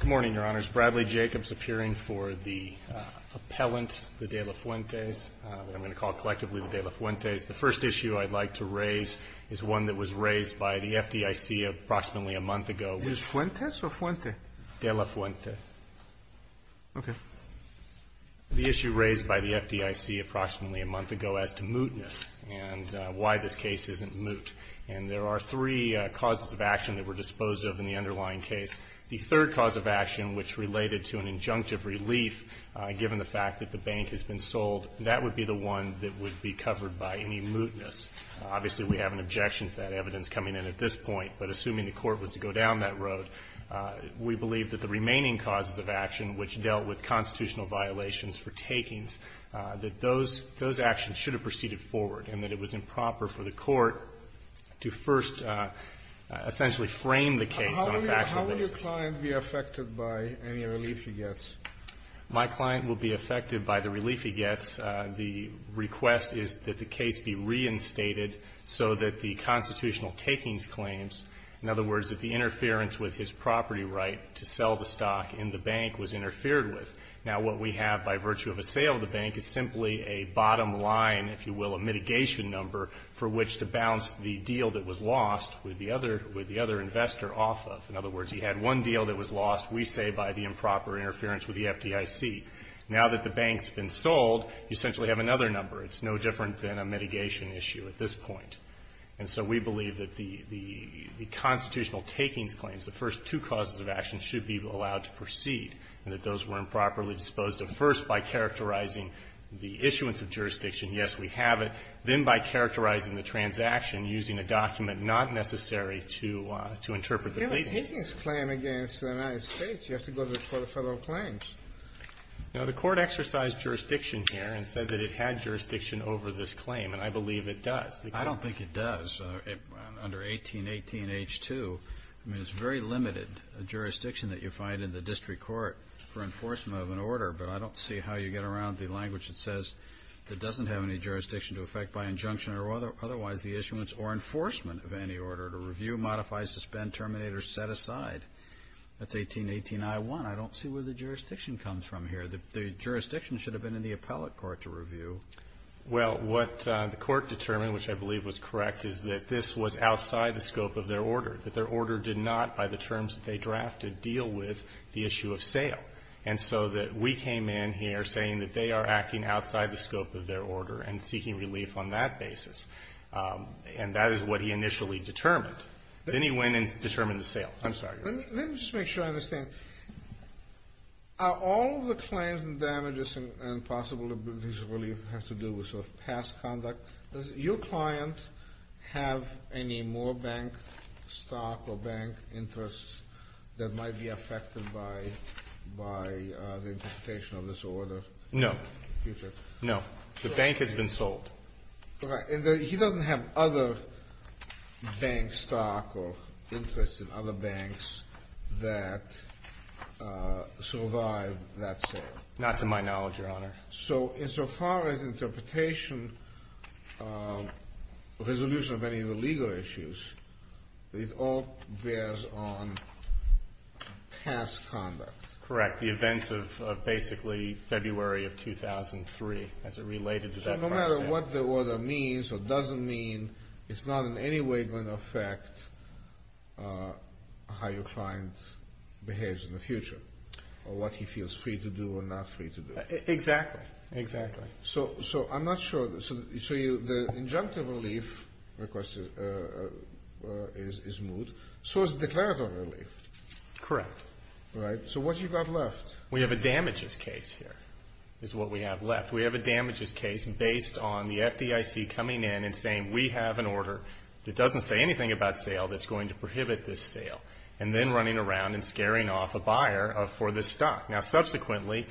Good morning, Your Honors. Bradley Jacobs, appearing for the appellant, the De La Fuentes, what I'm going to call collectively the De La Fuentes. The first issue I'd like to raise is one that was raised by the FDIC approximately a month ago. Is it Fuentes or Fuente? De La Fuente. Okay. The issue raised by the FDIC approximately a month ago as to mootness and why this case isn't moot. And there are three causes of action that were disposed of in the underlying case. The third cause of action, which related to an injunctive relief, given the fact that the bank has been sold, that would be the one that would be covered by any mootness. Obviously, we have an objection to that evidence coming in at this point, but assuming the court was to go down that road, we believe that the remaining causes of action, which dealt with constitutional violations for takings, that those actions should have proceeded forward and that it was improper for the court to first essentially frame the case on a factual basis. How would your client be affected by any relief he gets? My client will be affected by the relief he gets. The request is that the case be reinstated so that the constitutional takings claims, in other words, that the interference with his property right to sell the stock in the bank was interfered with. Now, what we have by virtue of a sale of the bank is simply a bottom line, if you will, a mitigation number for which to balance the deal that was lost with the other investor off of. In other words, he had one deal that was lost, we say, by the improper interference with the FDIC. Now that the bank's been sold, you essentially have another number. It's no different than a mitigation issue at this point. And so we believe that the constitutional takings claims, the first two causes of action, should be allowed to proceed and that those were improperly disposed of, first by characterizing the issuance of jurisdiction, yes, we have it, then by characterizing the transaction using a document not necessary to interpret the claim. You're taking this claim against the United States. You have to go to the Court of Federal Claims. Now, the Court exercised jurisdiction here and said that it had jurisdiction over this claim, and I believe it does. I don't think it does. Under 1818H2, I mean, it's very limited jurisdiction that you find in the district court for enforcement of an order, but I don't see how you get around the language that says it doesn't have any jurisdiction to affect by injunction or otherwise the issuance or enforcement of any order to review, modify, suspend, terminate, or set aside. That's 1818I1. I don't see where the jurisdiction comes from here. Well, what the Court determined, which I believe was correct, is that this was outside the scope of their order, that their order did not, by the terms that they drafted, deal with the issue of sale. And so that we came in here saying that they are acting outside the scope of their order and seeking relief on that basis. And that is what he initially determined. Then he went and determined the sale. I'm sorry. Let me just make sure I understand. Are all of the claims and damages and possible relief has to do with sort of past conduct? Does your client have any more bank stock or bank interests that might be affected by the interpretation of this order? No. No. The bank has been sold. He doesn't have other bank stock or interest in other banks that survived that sale? Not to my knowledge, Your Honor. So insofar as interpretation, resolution of any of the legal issues, it all bears on past conduct? Correct. The events of basically February of 2003 as it related to that process. So no matter what the order means or doesn't mean, it's not in any way going to affect how your client behaves in the future or what he feels free to do or not free to do. Exactly. Exactly. So I'm not sure. So the injunctive relief request is moved. So is declarative relief. Correct. Right? So what do you got left? We have a damages case here is what we have left. We have a damages case based on the FDIC coming in and saying, we have an order that doesn't say anything about sale that's going to prohibit this sale, and then running around and scaring off a buyer for this stock. Now, subsequently,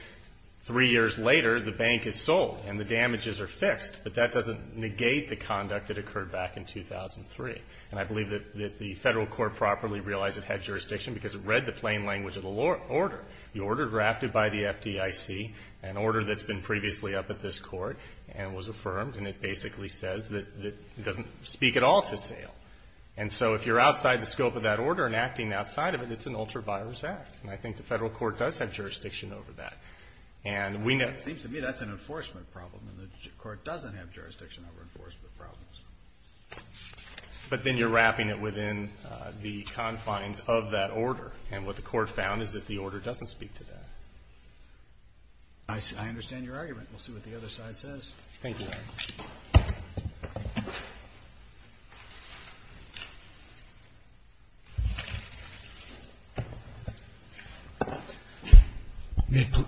three years later, the bank is sold and the damages are fixed, but that doesn't negate the conduct that occurred back in 2003. And I believe that the Federal Court properly realized it had jurisdiction because it read the plain language of the order. The order drafted by the FDIC, an order that's been previously up at this court, and was affirmed, and it basically says that it doesn't speak at all to sale. And so if you're outside the scope of that order and acting outside of it, it's an ultraviolence act. And I think the Federal Court does have jurisdiction over that. It seems to me that's an enforcement problem, and the Court doesn't have jurisdiction over enforcement problems. But then you're wrapping it within the confines of that order. And what the Court found is that the order doesn't speak to that. I understand your argument. We'll see what the other side says. Thank you, Your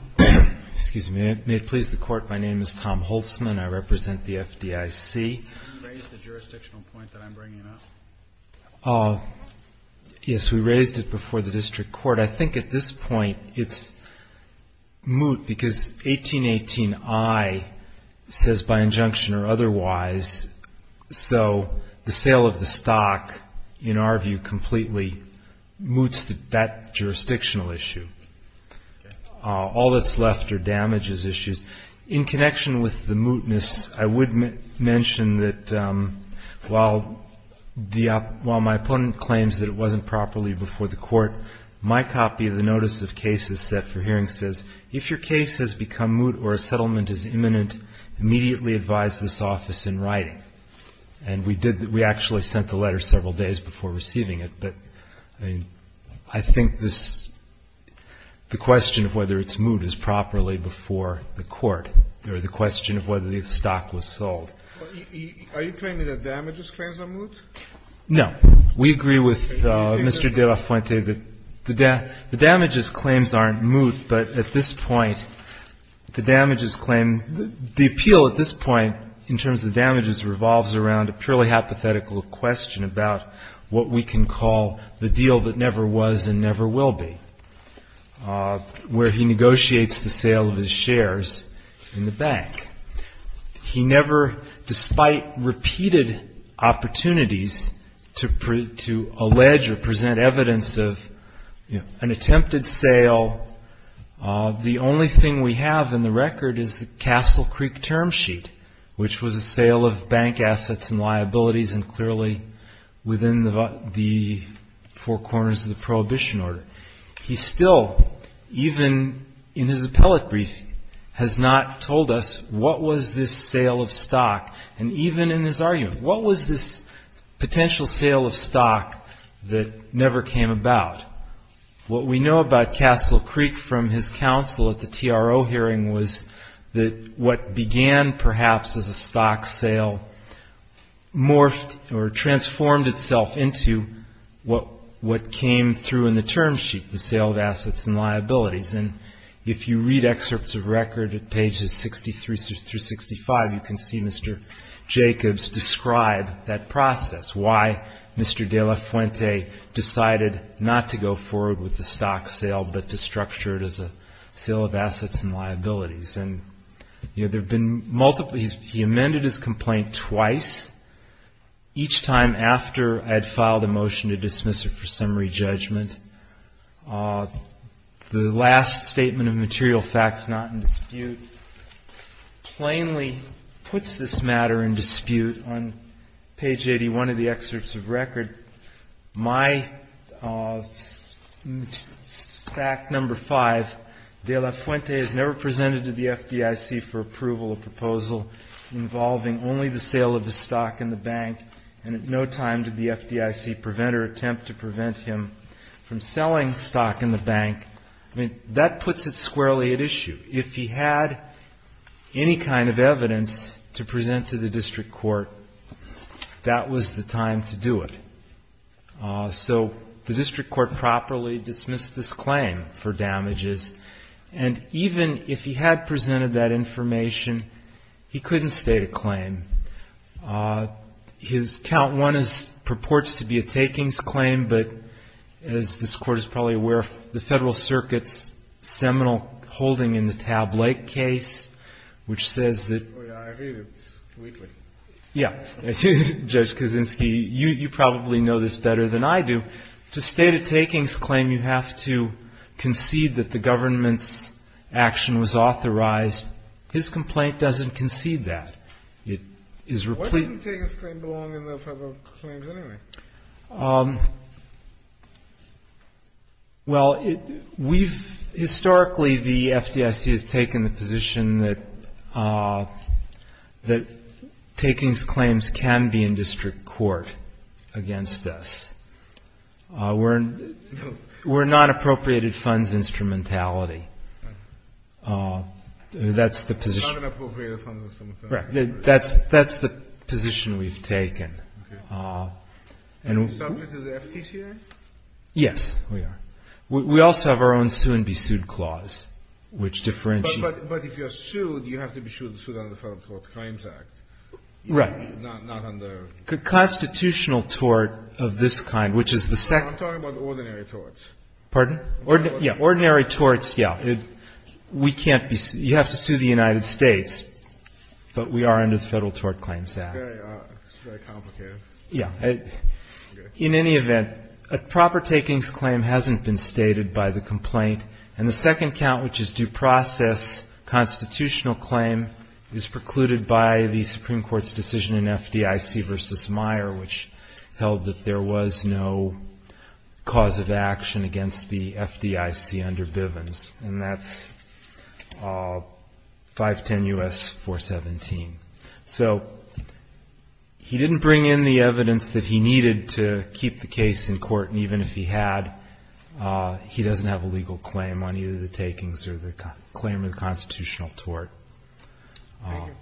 Honor. May it please the Court, my name is Tom Holtzman. I represent the FDIC. Can you raise the jurisdictional point that I'm bringing up? Yes, we raised it before the district court. I think at this point it's moot because 1818I says by injunction or otherwise. So the sale of the stock, in our view, completely moots that jurisdictional issue. All that's left are damages issues. In connection with the mootness, I would mention that while my opponent claims that it wasn't properly before the Court, my copy of the notice of cases set for hearing says if your case has become moot or a settlement is imminent, immediately advise this office in writing. And we did. We actually sent the letter several days before receiving it. But I think this, the question of whether it's moot is properly before the Court or the question of whether the stock was sold. Are you claiming that damages claims are moot? No. We agree with Mr. De La Fuente that the damages claims aren't moot, but at this point the damages claim, the appeal at this point in terms of damages revolves around a purely hypothetical question about what we can call the deal that never was and never will be, where he negotiates the sale of his shares in the bank. He never, despite repeated opportunities to allege or present evidence of an attempted sale, the only thing we have in the record is the Castle Creek term sheet, which was a sale of bank assets and liabilities and clearly within the four corners of the Prohibition Order. He still, even in his appellate brief, has not told us what was this sale of stock. And even in his argument, what was this potential sale of stock that never came about? What we know about Castle Creek from his counsel at the TRO hearing was that what began perhaps as a stock sale morphed or transformed itself into what came through in the term sheet, the sale of assets and liabilities. And if you read excerpts of record at pages 63 through 65, you can see Mr. Jacobs describe that process, why Mr. De La Fuente decided not to go forward with the stock sale, but to structure it as a sale of assets and liabilities. He amended his complaint twice, each time after I had filed a motion to dismiss it for summary judgment. The last statement of material facts not in dispute plainly puts this matter in dispute. On page 81 of the excerpts of record, my fact number five, De La Fuente has never presented to the FDIC for approval a proposal involving only the sale of the stock in the bank, and at no time did the FDIC prevent or attempt to prevent him from selling stock in the bank. I mean, that puts it squarely at issue. If he had any kind of evidence to present to the district court, that was the time to do it. So the district court properly dismissed this claim for damages, and even if he had presented that information, he couldn't state a claim. His count one purports to be a takings claim, but as this Court is probably aware, the Federal Circuit's seminal holding in the Taub Lake case, which says that ‑‑ Oh, yeah, I read it weekly. Yeah. Judge Kaczynski, you probably know this better than I do. To state a takings claim, you have to concede that the government's action was authorized. His complaint doesn't concede that. It is ‑‑ Why didn't takings claim belong in the Federal claims anyway? Well, we've ‑‑ historically the FDIC has taken the position that takings claims can be in district court against us. We're not appropriated funds instrumentality. That's the position. Not an appropriated funds instrumentality. Right. That's the position we've taken. Okay. Are we subject to the FTCA? Yes, we are. We also have our own sue and be sued clause, which differentiates ‑‑ But if you're sued, you have to be sued under the Federal Tort Claims Act. Right. Not under ‑‑ Constitutional tort of this kind, which is the second ‑‑ I'm talking about ordinary torts. Pardon? Yeah, ordinary torts, yeah. It's very complicated. Yeah. In any event, a proper takings claim hasn't been stated by the complaint, and the second count, which is due process constitutional claim, is precluded by the Supreme Court's decision in FDIC v. Meyer, which held that there was no cause of action against the FDIC under Bivens. And that's 510 U.S. 417. So he didn't bring in the evidence that he needed to keep the case in court, and even if he had, he doesn't have a legal claim on either the takings or the claim of the constitutional tort. Thank you.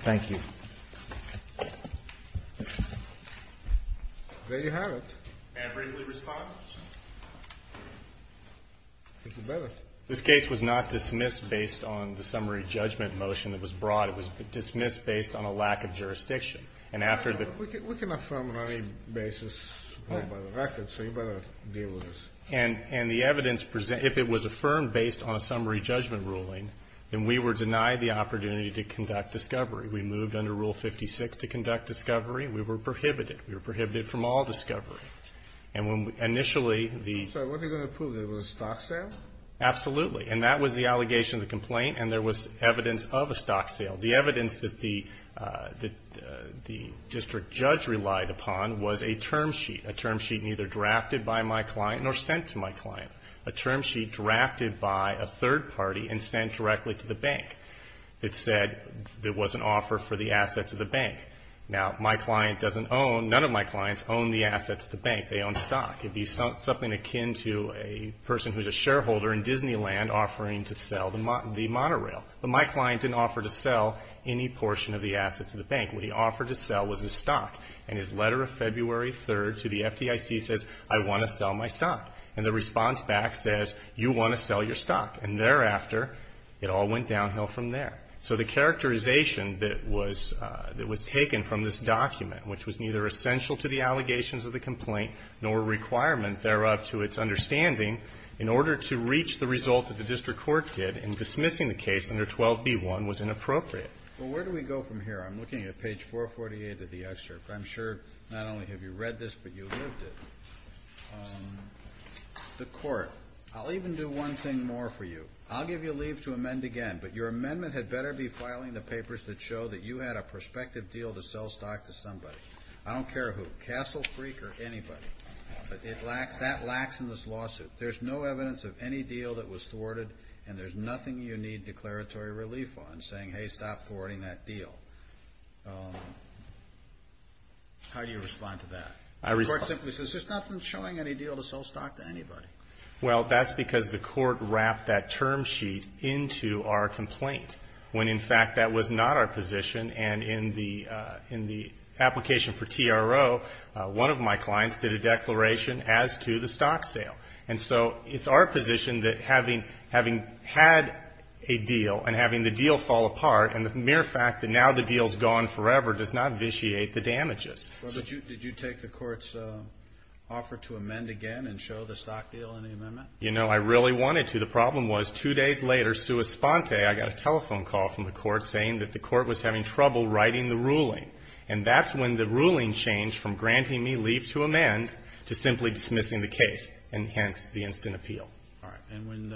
Thank you. There you have it. Averagely responsive. It's the best. This case was not dismissed based on the summary judgment motion that was brought. It was dismissed based on a lack of jurisdiction. And after the ---- We can affirm on any basis. Oh, by the record. So you better deal with this. And the evidence, if it was affirmed based on a summary judgment ruling, then we were denied the opportunity to conduct discovery. We moved under Rule 56 to conduct discovery. We were prohibited. We were prohibited from all discovery. And when initially the ---- So what are you going to prove? That it was a stock sale? Absolutely. And that was the allegation of the complaint, and there was evidence of a stock sale. The evidence that the district judge relied upon was a term sheet, a term sheet neither drafted by my client nor sent to my client, a term sheet drafted by a third party and sent directly to the bank that said there was an offer for the assets of the bank. Now, my client doesn't own, none of my clients own the assets of the bank. They own stock. It would be something akin to a person who is a shareholder in Disneyland offering to sell the monorail. But my client didn't offer to sell any portion of the assets of the bank. What he offered to sell was his stock. And his letter of February 3rd to the FDIC says, I want to sell my stock. And the response back says, you want to sell your stock. And thereafter, it all went downhill from there. So the characterization that was taken from this document, which was neither essential to the allegations of the complaint nor a requirement thereof to its understanding, in order to reach the result that the district court did in dismissing the case under 12B1 was inappropriate. Well, where do we go from here? I'm looking at page 448 of the excerpt. I'm sure not only have you read this, but you lived it. The court. I'll even do one thing more for you. I'll give you leave to amend again, but your amendment had better be filing the papers that show that you had a prospective deal to sell stock to somebody. I don't care who, Castle Freak or anybody. That lacks in this lawsuit. There's no evidence of any deal that was thwarted, and there's nothing you need declaratory relief on saying, hey, stop thwarting that deal. How do you respond to that? The court simply says, there's nothing showing any deal to sell stock to anybody. Well, that's because the court wrapped that term sheet into our complaint, when, in fact, that was not our position. And in the application for TRO, one of my clients did a declaration as to the stock sale. And so it's our position that having had a deal and having the deal fall apart and the mere fact that now the deal's gone forever does not vitiate the damages. Did you take the court's offer to amend again and show the stock deal in the amendment? You know, I really wanted to. The problem was two days later, I got a telephone call from the court saying that the court was having trouble writing the ruling. And that's when the ruling changed from granting me leave to amend to simply dismissing the case, and hence the instant appeal. All right. And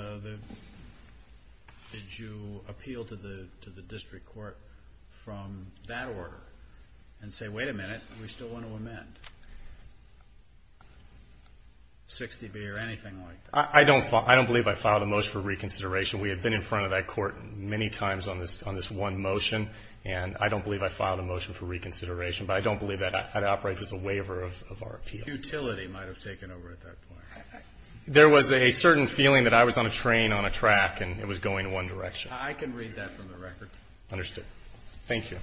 did you appeal to the district court from that order and say, wait a minute, we still want to amend 60B or anything like that? I don't believe I filed a motion for reconsideration. We had been in front of that court many times on this one motion, and I don't believe I filed a motion for reconsideration. But I don't believe that operates as a waiver of our appeal. Futility might have taken over at that point. There was a certain feeling that I was on a train on a track and it was going one direction. I can read that from the record. Understood. Thank you.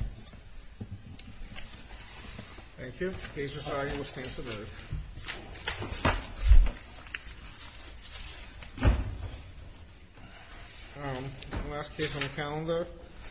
Thank you. Thank you. Thank you.